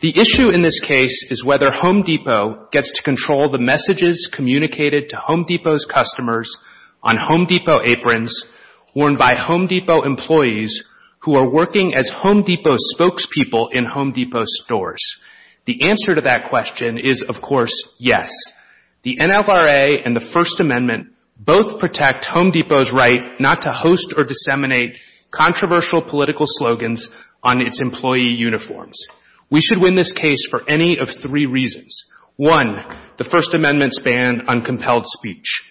The issue in this case is whether Home Depot gets to control the messages communicated to Home Depot's customers on Home Depot aprons worn by Home Depot employees who are working as Home Depot spokespeople in Home Depot stores. The answer to that question is, of course, yes. The NLRA and the First Amendment both protect Home Depot's right not to host or disseminate controversial political slogans on its employee uniforms. We should win this case for any of three reasons. One, the First Amendment's ban on compelled speech.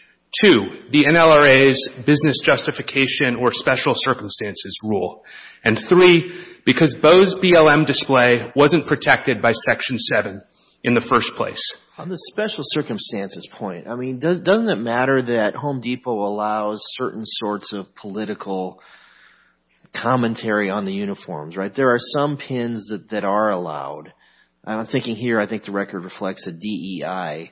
Two, the NLRA's business justification or special circumstances rule. And three, because Bo's BLM display wasn't protected by Section 7 in the first place. On the special circumstances point, I mean, doesn't it matter that Home Depot allows certain sorts of political commentary on the uniforms, right? There are some pins that are allowed. I'm thinking here, I think the record reflects the DEI.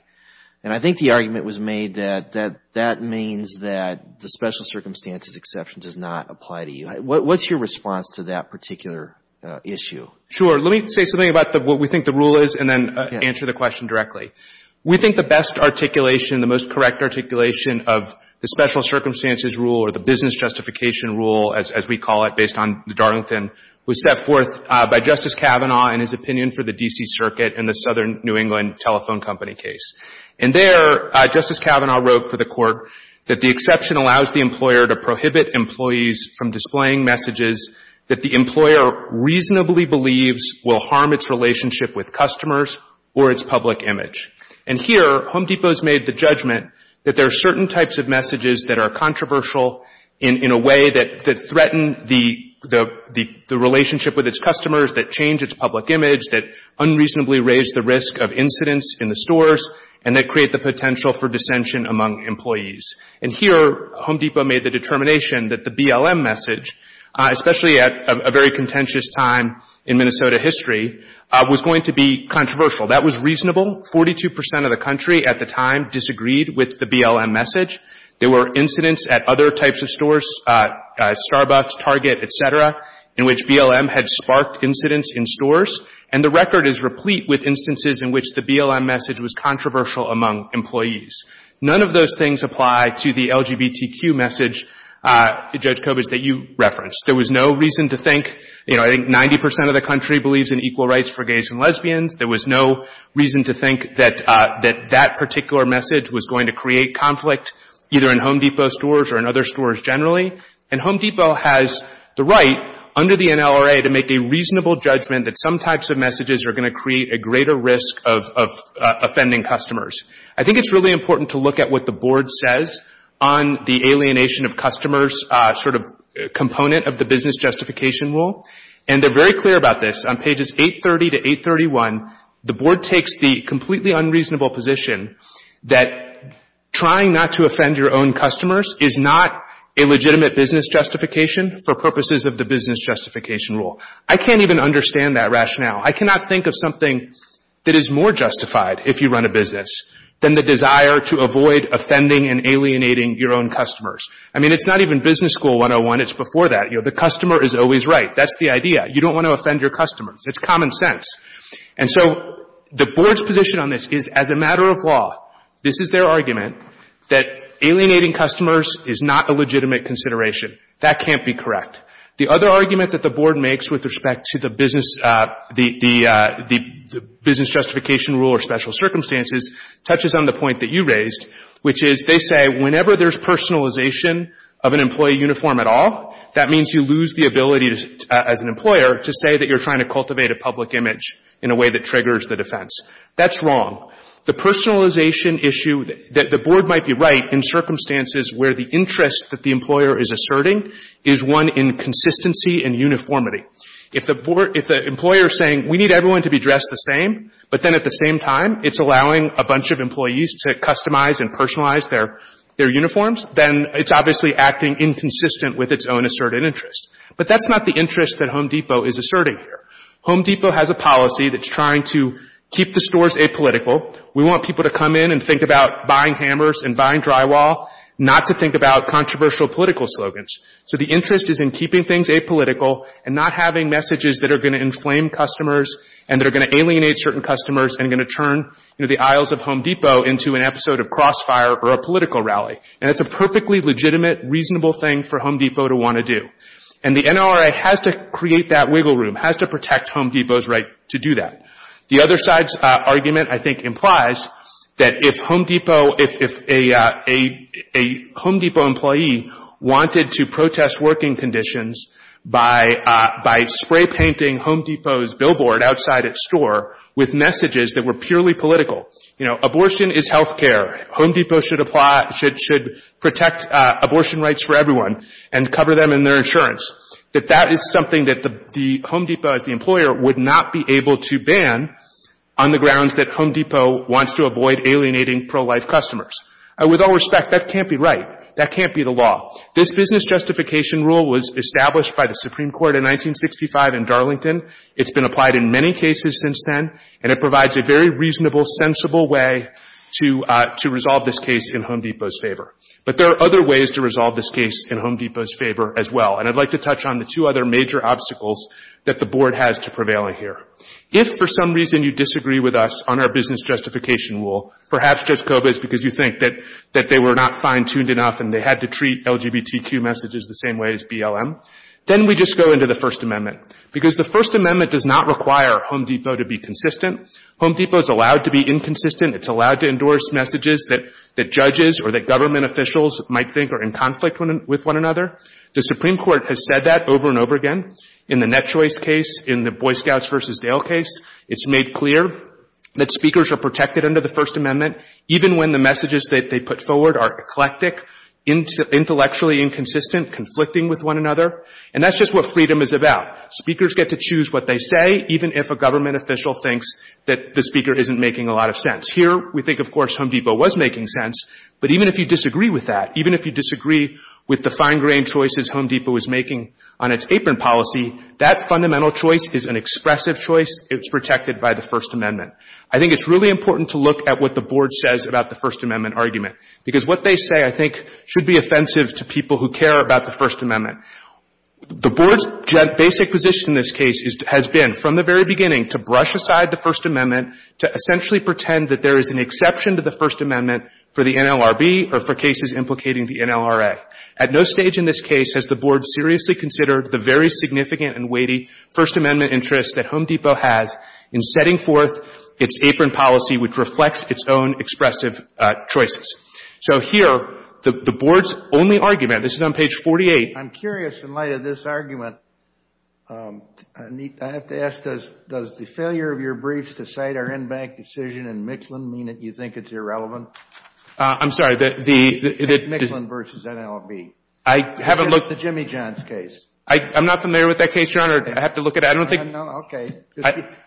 And I think the argument was made that that means that the special circumstances exception does not apply to you. What's your response to that particular issue? Sure. Let me say something about what we think the rule is and then answer the question directly. We think the best articulation, the most correct articulation of the special circumstances rule or the business justification rule, as we call it, based on the Darlington, was set forth by Justice Kavanaugh in his opinion for the D.C. Circuit in the Southern New England Telephone Company case. And there, Justice Kavanaugh wrote for the Court that the exception allows the employer to prohibit employees from displaying messages that the employer reasonably believes will harm its relationship with customers or its public image. And here, Home Depot has made the judgment that there are certain types of messages that are controversial in a way that threaten the relationship with its customers, that change its public image, that unreasonably raise the risk of incidents in the stores, and that create the potential for dissension among employees. And here, Home Depot made the determination that the BLM message, especially at a very contentious time in Minnesota history, was going to be controversial. That was reasonable. Forty-two percent of the country at the time disagreed with the BLM message. There were incidents at other types of stores, Starbucks, Target, et cetera, in which BLM had sparked incidents in stores. And the record is replete with instances in which the BLM message was controversial among employees. None of those things apply to the LGBTQ message, Judge Kobach, that you referenced. There was no reason to think, you know, I think 90 percent of the country believes in equal rights for gays and lesbians. There was no reason to think that that particular message was going to create conflict, either in Home Depot stores or in other stores generally. And Home Depot has the right, under the NLRA, to make a reasonable judgment that some types of messages are going to create a greater risk of offending customers. I think it's really important to look at what the Board says on the alienation of customers sort of component of the business justification rule. And they're very clear about this. On pages 830 to 831, the Board takes the completely unreasonable position that trying not to offend your own customers is not a legitimate business justification for purposes of the business justification rule. I can't even understand that rationale. I cannot think of something that is more justified if you run a business than the desire to avoid offending and alienating your own customers. I mean, it's not even business school 101. It's before that. You know, the customer is always right. That's the idea. You don't want to offend your customers. It's common sense. And so the Board's position on this is, as a matter of law, this is their argument, that alienating customers is not a legitimate consideration. That can't be correct. The other argument that the Board makes with respect to the business justification rule or special circumstances touches on the point that you raised, which is they say whenever there's personalization of an employee uniform at all, that means you lose the ability as an employer to say that you're trying to cultivate a public image in a way that triggers the defense. That's wrong. The personalization issue that the Board might be right in circumstances where the interest that the employer is asserting is one in consistency and uniformity. If the employer is saying, we need everyone to be dressed the same, but then at the same time, it's allowing a bunch of employees to customize and personalize their uniforms, then it's obviously acting inconsistent with its own asserted interest. But that's not the interest that Home Depot is asserting here. Home Depot has a policy that's trying to keep the stores apolitical. We want people to come in and think about buying hammers and buying drywall, not to think about controversial political slogans. So the interest is in keeping things apolitical and not having messages that are going to inflame customers and that are going to alienate certain customers and going to turn the aisles of Home Depot into an episode of crossfire or a political rally. And it's a perfectly legitimate, reasonable thing for Home Depot to want to do. And the NLRA has to create that wiggle room, has to protect Home Depot's right to do that. The other side's argument, I think, implies that if Home Depot, if a Home Depot employee wanted to protest working conditions by spray painting Home Depot's billboard outside its store with messages that were purely political, you know, abortion is health care. Home Depot should apply, should protect abortion rights for everyone and cover them in their insurance. That that is something that the Home Depot, as the employer, would not be able to ban on the grounds that Home Depot wants to avoid alienating pro-life customers. With all respect, that can't be right. That can't be the law. This business justification rule was established by the Supreme Court in 1965 in Darlington. It's been applied in many cases since then, and it provides a very reasonable, sensible way to resolve this case in Home Depot's favor. But there are other ways to resolve this case in Home Depot's favor as well. And I'd like to touch on the two other major obstacles that the Board has to prevail in here. If, for some reason, you disagree with us on our business justification rule, perhaps just COVID, because you think that they were not fine-tuned enough and they had to treat LGBTQ messages the same way as BLM, then we just go into the First Amendment. Because the First Amendment does not require Home Depot to be consistent. Home Depot is allowed to be inconsistent. It's allowed to endorse messages that judges or that government officials might think are in conflict with one another. The Supreme Court has said that over and over again in the Net Choice case, in the Boy Scouts v. Dale case. It's made clear that speakers are protected under the First Amendment, even when the messages that they put forward are eclectic, intellectually inconsistent, conflicting with one another. And that's just what freedom is about. Speakers get to choose what they say, even if a government official thinks that the speaker isn't making a lot of sense. Here, we think, of course, Home Depot was making sense. But even if you disagree with that, even if you disagree with the fine-grained choices Home Depot was making on its apron policy, that fundamental choice is an expressive choice. It's protected by the First Amendment. I think it's really important to look at what the Board says about the First Amendment argument. Because what they say, I think, should be offensive to people who care about the First Amendment. The Board's basic position in this case has been, from the very beginning, to brush aside the First Amendment to essentially pretend that there is an exception to the First Amendment for the NLRB or for cases implicating the NLRA. At no stage in this case has the Board seriously considered the very significant and weighty First Amendment interest that Home Depot has in setting forth its apron policy, which reflects its own expressive choices. So here, the Board's only argument, this is on page 48. I'm curious, in light of this argument, I have to ask, does the failure of your briefs to cite our in-bank decision in Mixland mean that you think it's irrelevant? I'm sorry, the... Mixland versus NLRB. I haven't looked... The Jimmy Johns case. I'm not familiar with that case, Your Honor. I have to look at it. I don't think... Okay.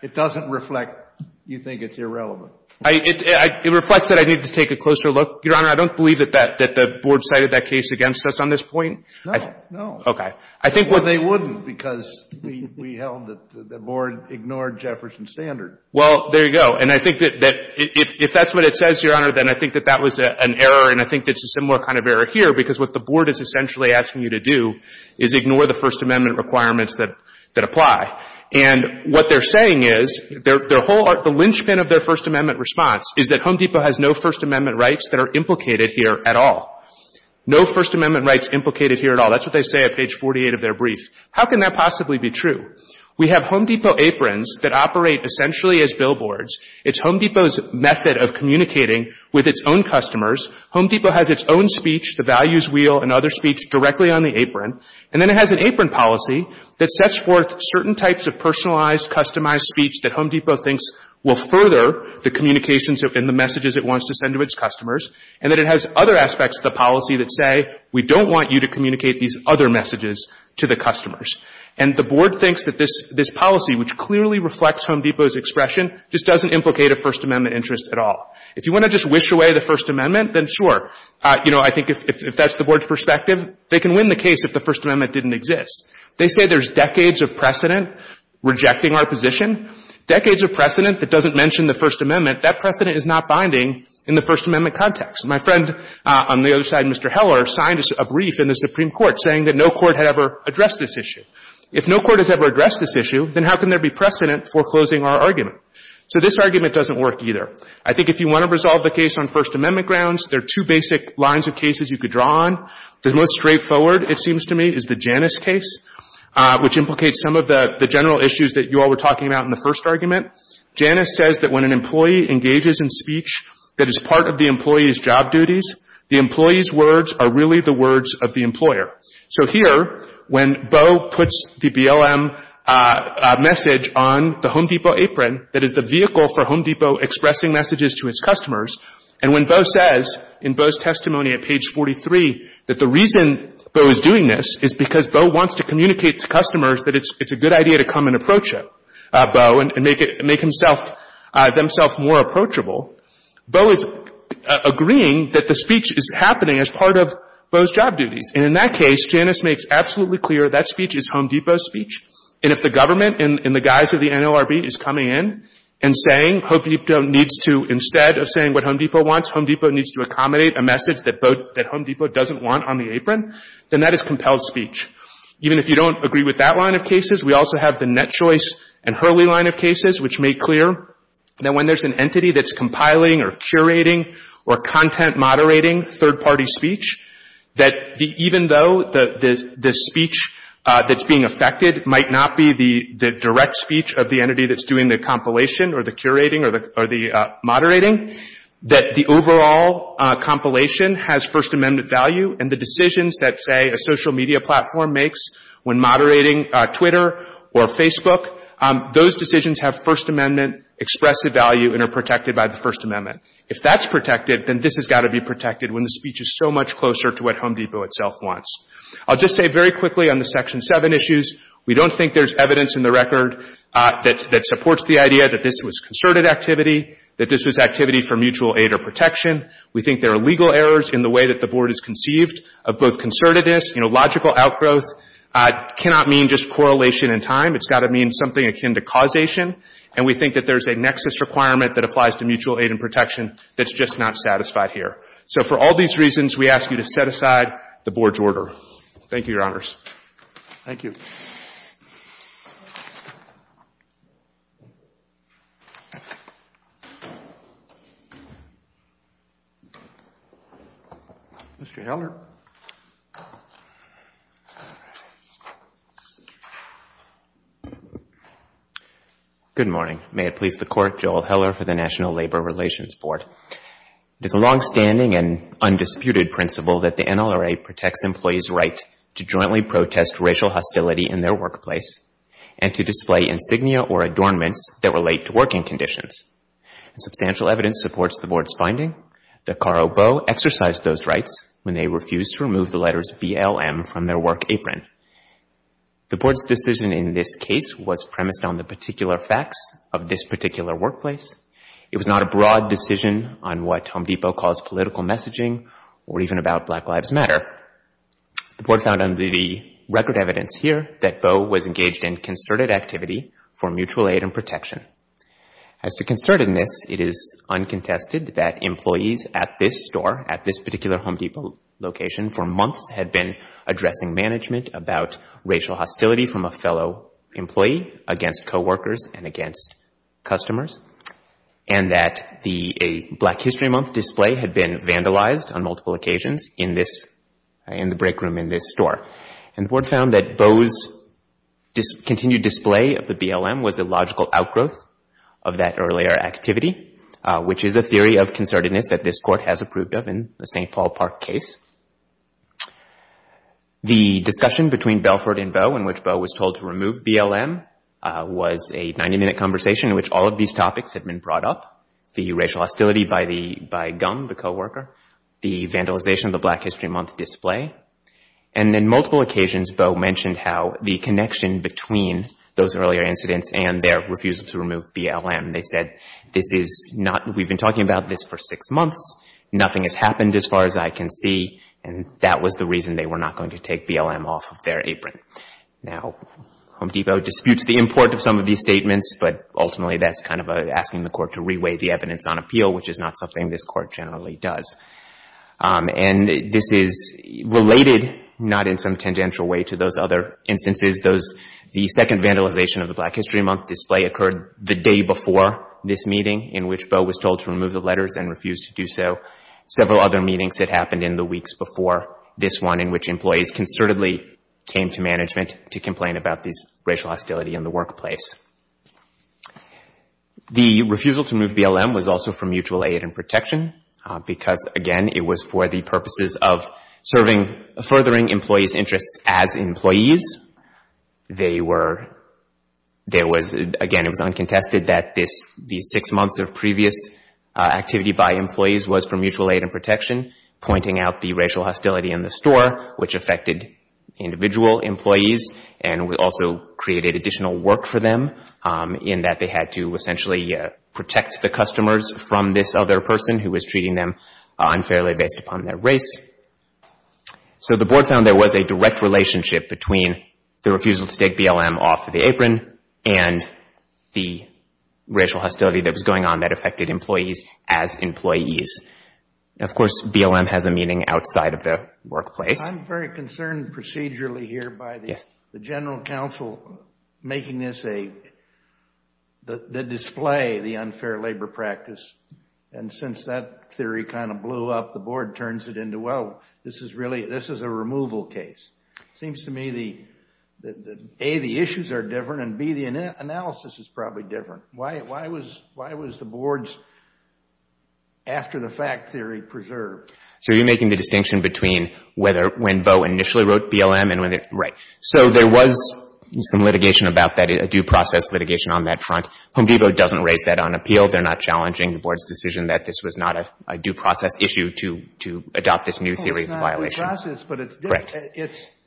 It doesn't reflect you think it's irrelevant. It reflects that I need to take a closer look. Your Honor, I don't believe that the Board cited that case against us on this point. No, no. Okay. I think... Well, they wouldn't, because we held that the Board ignored Jefferson's standard. Well, there you go. And I think that if that's what it says, Your Honor, then I think that that was an error, and I think it's a similar kind of error here, because what the Board is essentially asking you to do is ignore the First Amendment requirements that apply. And what they're saying is, their whole... The linchpin of their First Amendment response is that Home Depot has no First Amendment rights that are implicated here at all. No First Amendment rights implicated here at all. That's what they say at page 48 of their brief. How can that possibly be true? We have Home Depot aprons that operate essentially as billboards. It's Home Depot's method of communicating with its own customers. Home Depot has its own speech, the values wheel, and other speech directly on the apron. And then it has an apron policy that sets forth certain types of personalized, customized speech that Home Depot thinks will further the communications and the messages it wants to send to its customers. And then it has other aspects of the policy that say, we don't want you to communicate these other messages to the customers. And the Board thinks that this policy, which clearly reflects Home Depot's expression, just doesn't implicate a First Amendment interest at all. If you want to just wish away the First Amendment, then sure. You know, I think if that's the Board's perspective, they can win the case if the First Amendment didn't exist. They say there's decades of precedent rejecting our position. Decades of precedent that doesn't mention the First Amendment, that precedent is not binding in the First Amendment context. My friend on the other side, Mr. Heller, signed a brief in the Supreme Court saying that no court had ever addressed this issue. If no court has ever addressed this issue, then how can there be precedent for closing our argument? So this argument doesn't work either. I think if you want to resolve the case on First Amendment grounds, there are two basic lines of cases you could draw on. The most straightforward, it seems to me, is the Janus case, which implicates some of the general issues that you all were talking about in the first argument. Janus says that when an employee engages in speech that is part of the employee's job duties, the employee's words are really the words of the employer. So here, when Bo puts the BLM message on the Home Depot apron that is the vehicle for Home Depot expressing messages to its customers, and when Bo says in Bo's testimony at page 43 that the reason Bo is doing this is because Bo wants to communicate to customers that it's a good idea to come and approach him, Bo, and make himself more approachable, Bo is agreeing that the speech is happening as part of Bo's job duties. And in that case, Janus makes absolutely clear that speech is Home Depot's speech. And if the government, in the guise of the NLRB, is coming in and saying Home Depot needs to, instead of saying what Home Depot wants, Home Depot needs to accommodate a message that Home Depot doesn't want on the apron, then that is compelled speech. Even if you don't agree with that line of cases, we also have the Net Choice and Hurley line of cases, which make clear that when there's an entity that's compiling or curating or content moderating third-party speech, that even though the speech that's being affected might not be the direct speech of the entity that's doing the compilation or the curating or the moderating, that the overall compilation has First Amendment value, and the decisions that, say, a social media platform makes when moderating Twitter or Facebook, those decisions have First Amendment expressive value and are protected by the First Amendment. If that's protected, then this has got to be protected when the speech is so much closer to what Home Depot itself wants. I'll just say very quickly on the Section 7 issues, we don't think there's evidence in the record that supports the idea that this was concerted activity, that this was activity for mutual aid or protection. We think there are legal errors in the way that the Board has conceived of both concertedness, you know, logical outgrowth, cannot mean just correlation in time. It's got to mean something akin to causation. And we think that there's a nexus requirement that applies to mutual aid and protection that's just not satisfied here. So for all these reasons, we ask you to set aside the Board's order. Thank you, Your Honors. Thank you. Mr. Heller? Good morning. May it please the Court, Joel Heller for the National Labor Relations Board. It is a longstanding and undisputed principle that the NLRA protects employees' right to jointly protest racial hostility in their workplace and to display insignia or adornments that relate to working conditions. Substantial evidence supports the Board's finding that Karo Boe exercised those rights when they refused to remove the letters BLM from their work apron. The Board's decision in this case was premised on the particular facts of this particular workplace. It was not a broad decision on what Home Depot calls political messaging or even about Black Lives Matter. The Board found under the record evidence here that Boe was engaged in concerted activity for mutual aid and protection. As to concertedness, it is uncontested that employees at this store, at this particular Home Depot location, for months had been addressing management about racial hostility from a fellow employee against coworkers and against customers, and that a Black History Month display had been vandalized on multiple occasions in the break room in this store. And the Board found that Boe's continued display of the BLM was a logical outgrowth of that earlier activity, which is a theory of concertedness that this Court has approved of in the St. Paul Park case. The discussion between Belford and Boe in which Boe was told to remove BLM was a 90-minute conversation in which all of these topics had been brought up, the racial hostility by GUM, the coworker, the vandalization of the Black History Month display. And on multiple occasions, Boe mentioned how the connection between those earlier incidents and their refusal to remove BLM, they said, this is not, we've been talking about this for six months, nothing has happened as far as I can see, and that was the reason they were not going to take BLM off of their apron. Now, Home Depot disputes the import of some of these statements, but ultimately that's kind of asking the Court to reweigh the evidence on appeal, which is not something this Court generally does. And this is related, not in some tangential way, to those other instances. The second vandalization of the Black History Month display occurred the day before this meeting in which Boe was told to remove the letters and refused to do so. Several other meetings had happened in the weeks before this one in which employees concertedly came to management to complain about this racial hostility in the workplace. The refusal to remove BLM was also for mutual aid and protection because, again, it was for the purposes of serving, furthering employees' interests as employees. They were, there was, again, it was uncontested that this, these six months of previous activity by employees was for mutual aid and protection, pointing out the racial hostility in the store, which affected individual employees, and also created additional work for them in that they had to essentially protect the customers from this other person who was treating them unfairly based upon their race. So the Board found there was a direct relationship between the refusal to take BLM off the apron and the racial hostility that was going on that affected employees as employees. Of course, BLM has a meaning outside of the workplace. I'm very concerned procedurally here by the General Counsel making this a, the display, the unfair labor practice. And since that theory kind of blew up, the Board turns it into, well, this is really, this is a removal case. It seems to me that, A, the issues are different, and B, the analysis is probably different. Why, why was, why was the Board's after-the-fact theory preserved? So you're making the distinction between whether, when Bo initially wrote BLM and when, right. So there was some litigation about that, a due process litigation on that front. Home Depot doesn't raise that on appeal. They're not challenging the Board's decision that this was not a due process issue to adopt this new theory of violation. It's not due process, but it's different.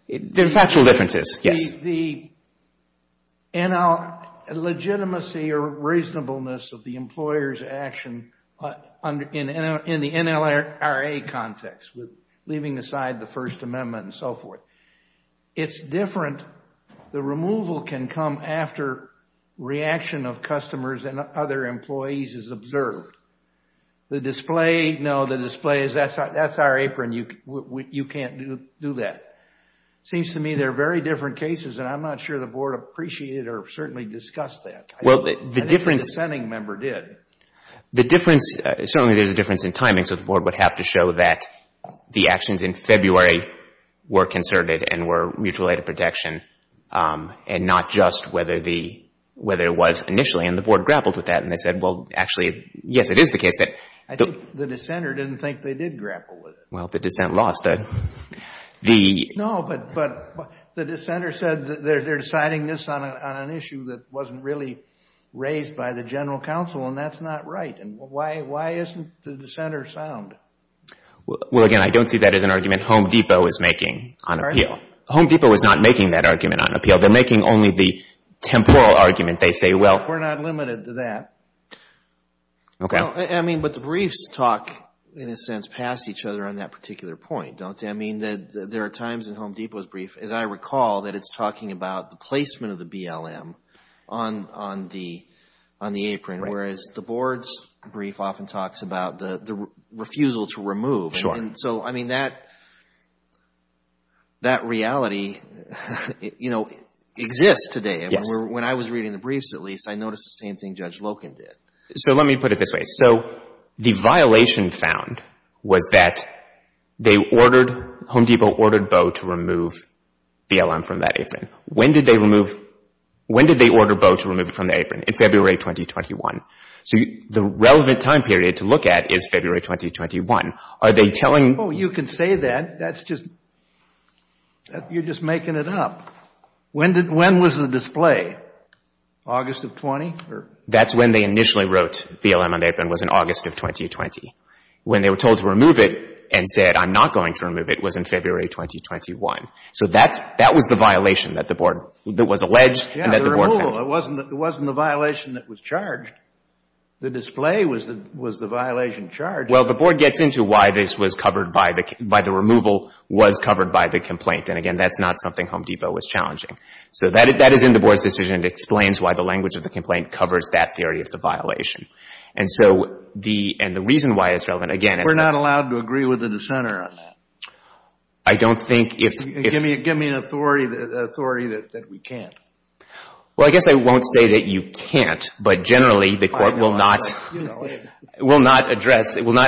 There's factual differences, yes. The legitimacy or reasonableness of the employer's action in the NLRA context, leaving aside the First Amendment and so forth, it's different. The removal can come after reaction of customers and other employees is observed. The display, no, the display is, that's our apron. You can't do that. Seems to me they're very different cases, and I'm not sure the Board appreciated or certainly discussed that. Well, the difference. The dissenting member did. The difference, certainly there's a difference in timing, so the Board would have to show that the actions in February were concerted and were mutual aid of protection, and not just whether the, whether it was initially, and the Board grappled with that, and they said, well, actually, yes, it is the case that. I think the dissenter didn't think they did grapple with it. Well, the dissent lost. No, but the dissenter said they're deciding this on an issue that wasn't really raised by the General Counsel, and that's not right. Why isn't the dissenter sound? Well, again, I don't see that as an argument Home Depot is making on appeal. They're making only the temporal argument. They say, well, we're not limited to that. I mean, but the briefs talk, in a sense, past each other on that particular point, don't they? I mean, there are times in Home Depot's brief, as I recall, that it's talking about the placement of the BLM on the apron, whereas the Board's brief often talks about the refusal to remove. And so, I mean, that reality, you know, exists today. When I was reading the briefs, at least, I noticed the same thing Judge Loken did. So let me put it this way. So the violation found was that they ordered, Home Depot ordered Boe to remove BLM from that apron. When did they remove, when did they order Boe to remove it from the apron? In February 2021. So the relevant time period to look at is February 2021. Are they telling... Oh, you can say that. That's just, you're just making it up. When was the display? August of 20? That's when they initially wrote BLM on the apron was in August of 2020. When they were told to remove it and said, I'm not going to remove it, was in February 2021. So that was the violation that the Board, that was alleged and that the Board found. Yeah, the removal. It wasn't the violation that was charged. The display was the violation charged. Well, the Board gets into why this was covered by the removal was covered by the complaint. And again, that's not something Home Depot was challenging. So that is in the Board's decision. It explains why the language of the complaint covers that theory of the violation. We're not allowed to agree with the dissenter on that. Give me an authority that we can't. Well, I guess I won't say that you can't, but generally the Court will not... It will not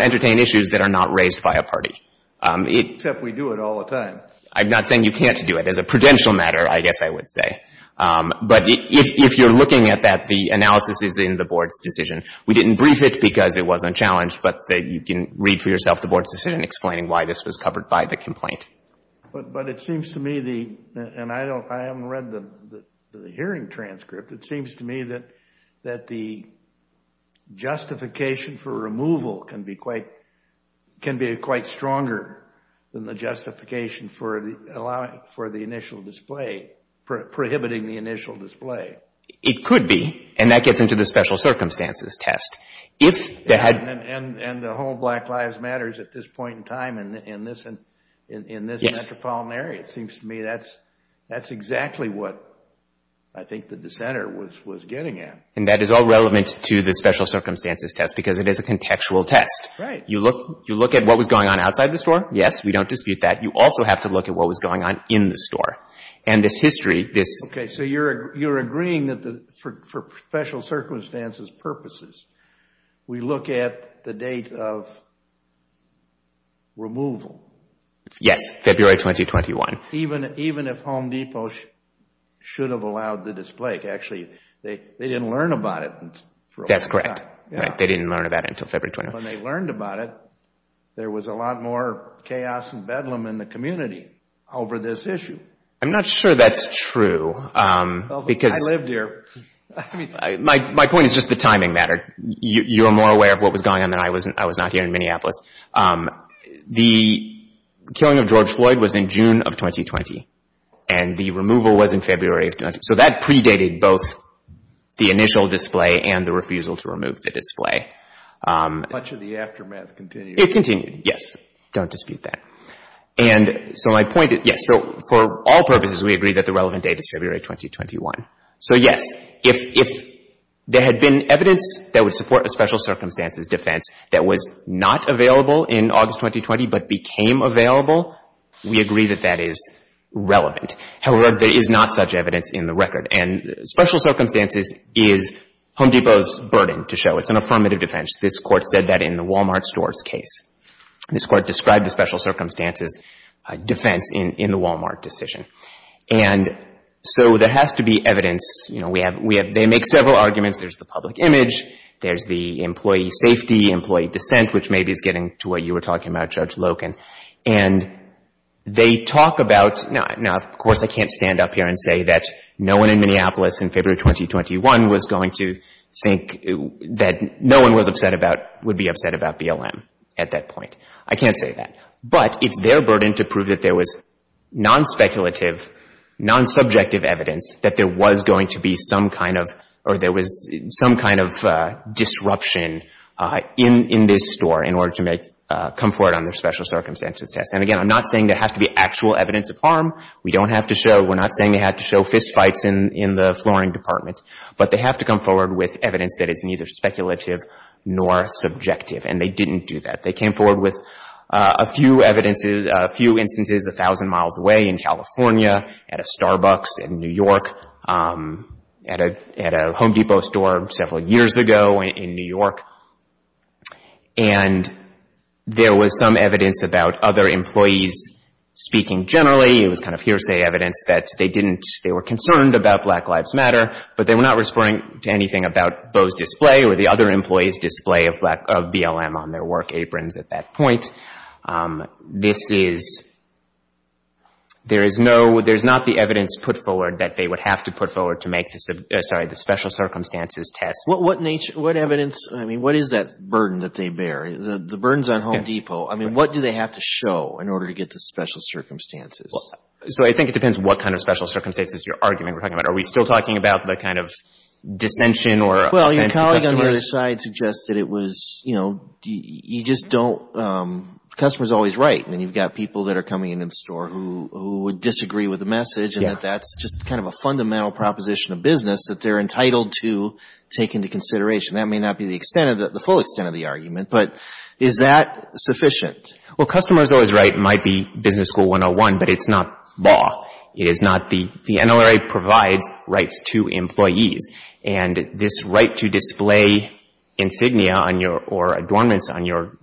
entertain issues that are not raised by a party. Except we do it all the time. I'm not saying you can't do it. As a prudential matter, I guess I would say. But if you're looking at that, the analysis is in the Board's decision. We didn't brief it because it wasn't challenged. But you can read for yourself the Board's decision explaining why this was covered by the complaint. But it seems to me, and I haven't read the hearing transcript, it seems to me that the justification for removal can be quite stronger than the justification for the initial display, prohibiting the initial display. It could be, and that gets into the special circumstances test. And the whole Black Lives Matters at this point in time in this metropolitan area. It seems to me that's exactly what I think the dissenter was getting at. And that is all relevant to the special circumstances test because it is a contextual test. You look at what was going on outside the store. Yes, we don't dispute that. You also have to look at what was going on in the store. And this history... Okay, so you're agreeing that for special circumstances purposes we look at the date of removal. Yes, February 2021. Even if Home Depot should have allowed the display. That's correct. They didn't learn about it until February 2021. When they learned about it, there was a lot more chaos and bedlam in the community over this issue. I'm not sure that's true. My point is just the timing matter. You're more aware of what was going on than I was not here in Minneapolis. The killing of George Floyd was in June of 2020, and the removal was in February of 2020. So that predated both the initial display and the refusal to remove the display. Much of the aftermath continued. It continued, yes. Don't dispute that. For all purposes, we agree that the relevant date is February 2021. So yes, if there had been evidence that would support a special circumstances defense that was not available in August 2020 but became available, we agree that that is relevant. However, there is not such evidence in the record. Special circumstances is Home Depot's burden to show. It's an affirmative defense. This Court said that in the Walmart stores case. This Court described the special circumstances defense in the Walmart decision. There has to be evidence. They make several arguments. There's the public image. There's the employee safety, employee dissent, which maybe is getting to what you were talking about, Judge Loken. Of course, I can't stand up here and say that no one in Minneapolis in February 2021 was going to think that no one would be upset about BLM at that point. I can't say that. But it's their burden to prove that there was non-speculative, non-subjective evidence that there was going to be some kind of, or there was some kind of disruption in this store in order to come forward on their special circumstances test. And again, I'm not saying there has to be actual evidence of harm. We don't have to show. We're not saying they had to show fistfights in the flooring department. But they have to come forward with evidence that is neither speculative nor subjective. And they didn't do that. They came forward with a few instances a thousand miles away in California, at a Starbucks in New York, at a Home Depot store several years ago in New York. And there was some evidence about other employees speaking generally. It was kind of hearsay evidence that they were concerned about Black Lives Matter, but they were not responding to anything about Bo's display or the other employees' display of BLM on their work aprons at that point. There's not the evidence put forward that they would have to put forward to make the special circumstances test. What nature, what evidence, I mean, what is that burden that they bear? The burdens on Home Depot, I mean, what do they have to show in order to get the special circumstances? So I think it depends what kind of special circumstances you're arguing we're talking about. Are we still talking about the kind of dissension or offense to customers? My colleague on the other side suggested it was, you know, you just don't — the customer is always right. I mean, you've got people that are coming into the store who would disagree with the message and that that's just kind of a fundamental proposition of business that they're entitled to take into consideration. That may not be the extent of the — the full extent of the argument, but is that sufficient? Well, customer is always right might be Business School 101, but it's not law. It is not the — the NLRA provides rights to employees, and this right to display insignia on your — or adornments on your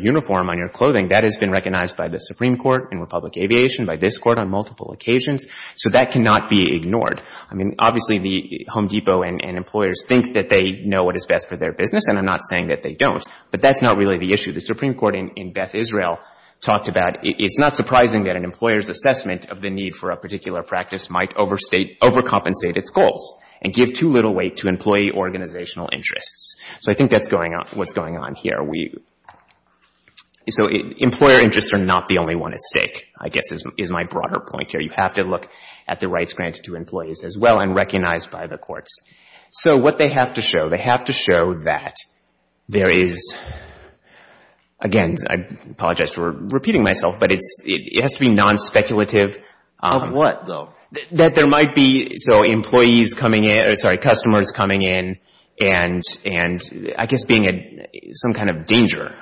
uniform, on your clothing, that has been recognized by the Supreme Court in Republic Aviation, by this Court on multiple occasions. So that cannot be ignored. I mean, obviously, the Home Depot and employers think that they know what is best for their business, and I'm not saying that they don't, but that's not really the issue. The Supreme Court in Beth Israel talked about it's not surprising that an employer's assessment of the need for a particular practice might overstate — overcompensate its goals and give too little weight to employee organizational interests. So I think that's going on — what's going on here. We — so employer interests are not the only one at stake, I guess, is my broader point here. You have to look at the rights granted to employees as well and recognized by the courts. So what they have to show, they have to show that there is — again, I apologize for repeating myself, but it's — it has to be nonspeculative. Of what, though? That there might be — so employees coming in — sorry, customers coming in and — and I guess being some kind of danger.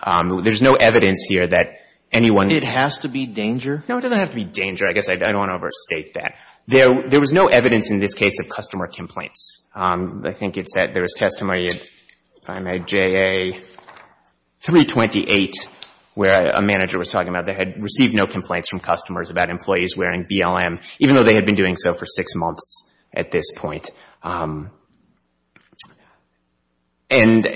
There's no evidence here that anyone — It has to be danger? No, it doesn't have to be danger. I guess I don't want to overstate that. There was no evidence in this case of customer complaints. I think it's that there was testimony at — if I may, JA 328, where a manager was talking about how they had received no complaints from customers about employees wearing BLM, even though they had been doing so for six months at this point. And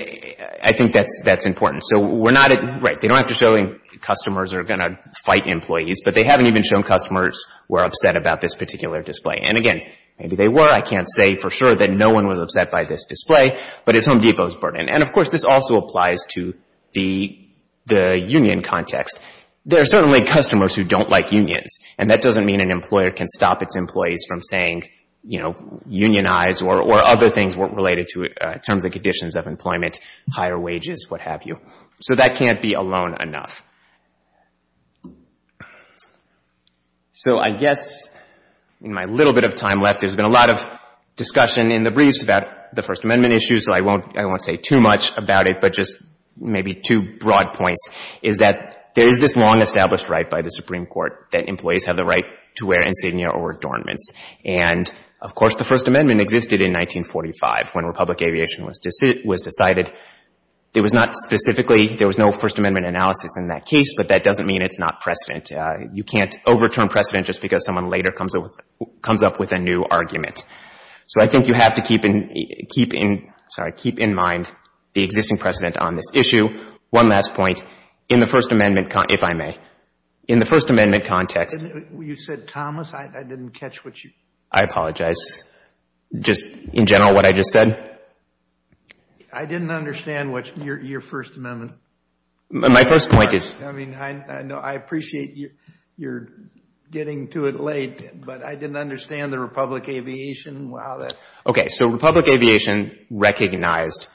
I think that's important. So we're not — right, they don't have to show customers are going to fight employees, but they haven't even shown customers were upset about this particular display. And again, maybe they were. I can't say for sure that no one was upset by this display, but it's Home Depot's burden. And, of course, this also applies to the union context. There are certainly customers who don't like unions, and that doesn't mean an employer can stop its employees from saying, you know, unionize or other things related to terms and conditions of employment, higher wages, what have you. So that can't be alone enough. So I guess in my little bit of time left, there's been a lot of discussion in the briefs about the First Amendment issues, so I won't say too much about it, but just maybe two broad points, is that there is this long-established right by the Supreme Court that employees have the right to wear insignia or adornments. And, of course, the First Amendment existed in 1945 when Republic Aviation was decided. There was not specifically — there was no First Amendment analysis in that case, but that doesn't mean it's not precedent. You can't overturn precedent just because someone later comes up with a new argument. So I think you have to keep in mind the existing precedent on this issue. One last point. In the First Amendment — if I may. In the First Amendment context — You said Thomas. I didn't catch what you — I apologize. Just in general what I just said? I didn't understand what your First Amendment — My first point is — I mean, I appreciate you're getting to it late, but I didn't understand the Republic Aviation. Okay. So Republic Aviation recognized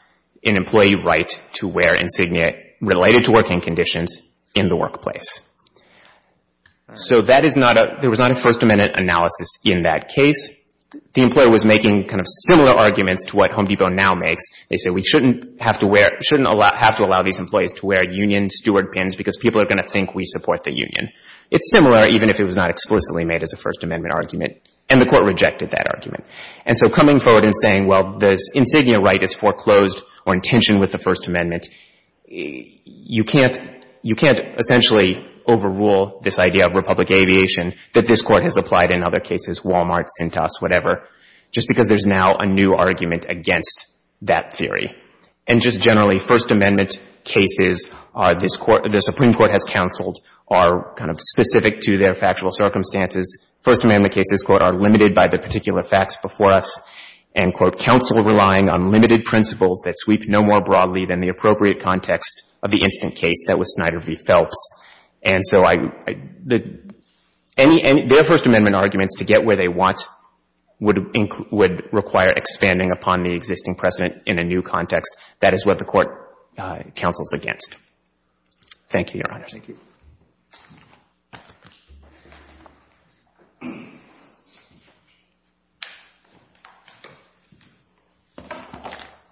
an employee right to wear insignia related to working conditions in the workplace. So that is not a — there was not a First Amendment analysis in that case. The employer was making kind of similar arguments to what Home Depot now makes. They say we shouldn't have to wear — shouldn't have to allow these employees to wear union steward pins because people are going to think we support the union. It's similar even if it was not explicitly made as a First Amendment argument, and the Court rejected that argument. And so coming forward and saying, well, this insignia right is foreclosed or in tension with the First Amendment, you can't — you can't essentially overrule this idea of Republic Aviation that this Court has applied in other cases — Wal-Mart, Cintas, whatever — just because there's now a new argument against that theory. And just generally, First Amendment cases are — the Supreme Court has counseled are kind of specific to their factual circumstances. First Amendment cases, quote, are limited by the particular facts before us and, quote, counsel relying on limited principles that sweep no more broadly than the appropriate context of the incident case. That was Snyder v. Phelps. And so I — any — their First Amendment arguments to get where they want would require expanding upon the existing precedent in a new context. That is what the Court counsels against. Thank you, Your Honors. Thank you.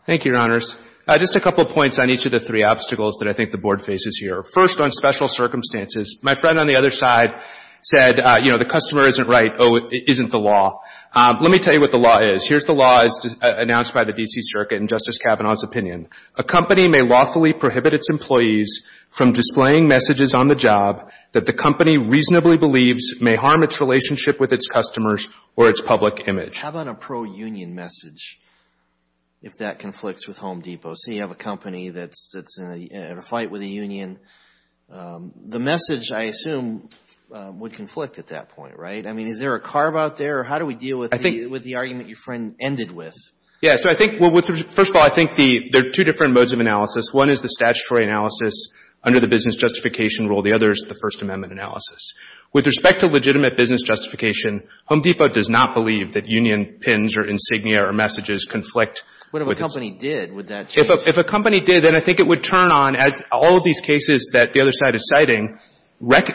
Thank you, Your Honors. Just a couple points on each of the three obstacles that I think the Board faces here. First, on special circumstances, my friend on the other side said, you know, the customer isn't right, oh, it isn't the law. Let me tell you what the law is. Here's the law as announced by the D.C. Circuit in Justice Kavanaugh's opinion. A company may lawfully prohibit its employees from displaying messages on the job that the company reasonably believes may harm its relationship with its customers or its public image. How about a pro-union message if that conflicts with Home Depot? So you have a company that's in a fight with a union. The message, I assume, would conflict at that point, right? I mean, is there a carve out there, or how do we deal with the argument your friend ended with? Yeah, so I think, well, first of all, I think there are two different modes of analysis. One is the statutory analysis under the business justification rule. The other is the First Amendment analysis. With respect to legitimate business justification, Home Depot does not believe that union pins or insignia or messages conflict. What if a company did? Would that change? If a company did, then I think it would turn on, as all of these cases that the other side is citing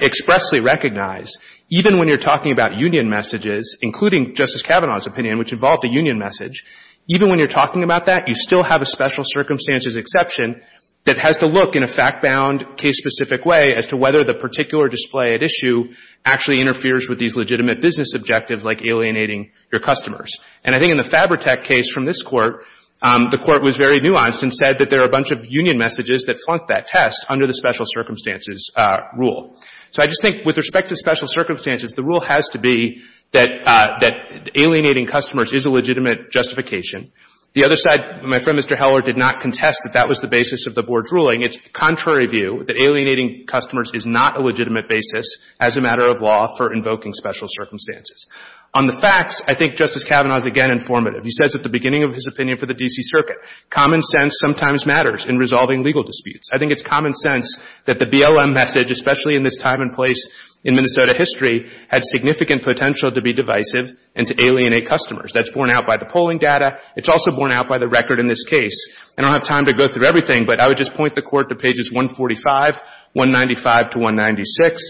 expressly recognize, even when you're talking about union messages, including Justice Kavanaugh's opinion, which involved a union message, even when you're talking about that, you still have a special circumstances exception that has to look in a fact-bound, case-specific way as to whether the particular display at issue actually interferes with these legitimate business objectives like alienating your customers. And I think in the Fabrotech case from this Court, the Court was very nuanced and said that there are a bunch of union messages that flunk that test under the special circumstances rule. So I just think with respect to special circumstances, the rule has to be that alienating customers is a legitimate justification. The other side, my friend Mr. Heller did not contest that that was the basis of the Board's ruling. It's contrary view that alienating customers is not a legitimate basis as a matter of law for invoking special circumstances. On the facts, I think Justice Kavanaugh is again informative. He says at the beginning of his opinion for the D.C. Circuit, common sense sometimes matters in resolving legal disputes. I think it's common sense that the BLM message, especially in this time and place in Minnesota history, had significant potential to be divisive and to alienate customers. That's borne out by the polling data. It's also borne out by the record in this case. I don't have time to go through everything, but I would just point the Court to pages 145, 195 to 196,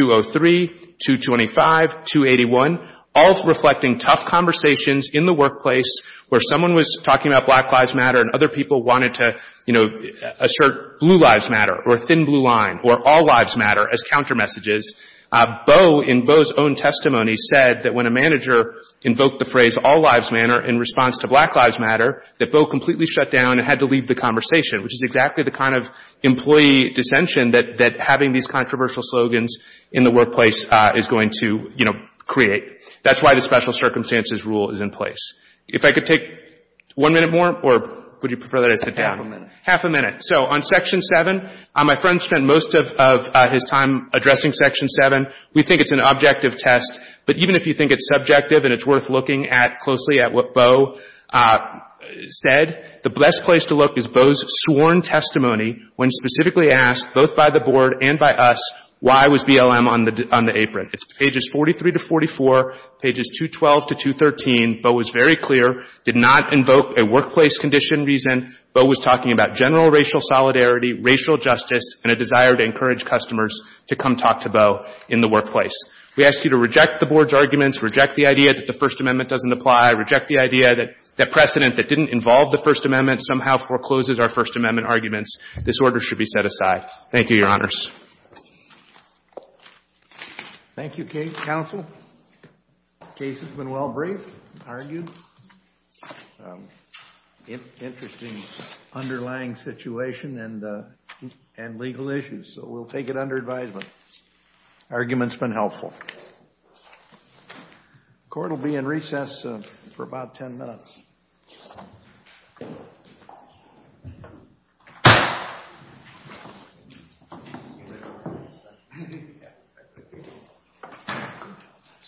203, 225, 281, all reflecting tough conversations in the workplace where someone was talking about Black Lives Matter and other people wanted to, you know, assert Blue Lives Matter or Thin Blue Line or All Lives Matter as counter messages. Boe, in Boe's own testimony, said that when a manager invoked the phrase All Lives Matter in response to Black Lives Matter, that Boe completely shut down and had to leave the conversation, which is exactly the kind of employee dissension that having these controversial slogans in the workplace is going to, you know, create. That's why the special circumstances rule is in place. If I could take one minute more, or would you prefer that I sit down? Half a minute. So on Section 7, my friend spent most of his time addressing Section 7. We think it's an objective test, but even if you think it's subjective and it's worth looking at closely at what Boe said, the best place to look is Boe's sworn testimony when specifically asked, both by the Board and by us, why was BLM on the apron. It's pages 43 to 44, pages 212 to 213. Boe was very clear, did not invoke a workplace condition reason. Boe was talking about general racial solidarity, racial justice, and a desire to encourage customers to come talk to Boe in the workplace. We ask you to reject the Board's arguments, reject the idea that the First Amendment doesn't apply, reject the idea that precedent that didn't involve the First Amendment somehow forecloses our First Amendment arguments. This order should be set aside. Thank you, Your Honors. Thank you, Counsel. The case has been well briefed and argued. Interesting underlying situation and legal issues, so we'll take it under advisement. The argument's been helpful. The Court will be in recess for about 10 minutes. Thank you.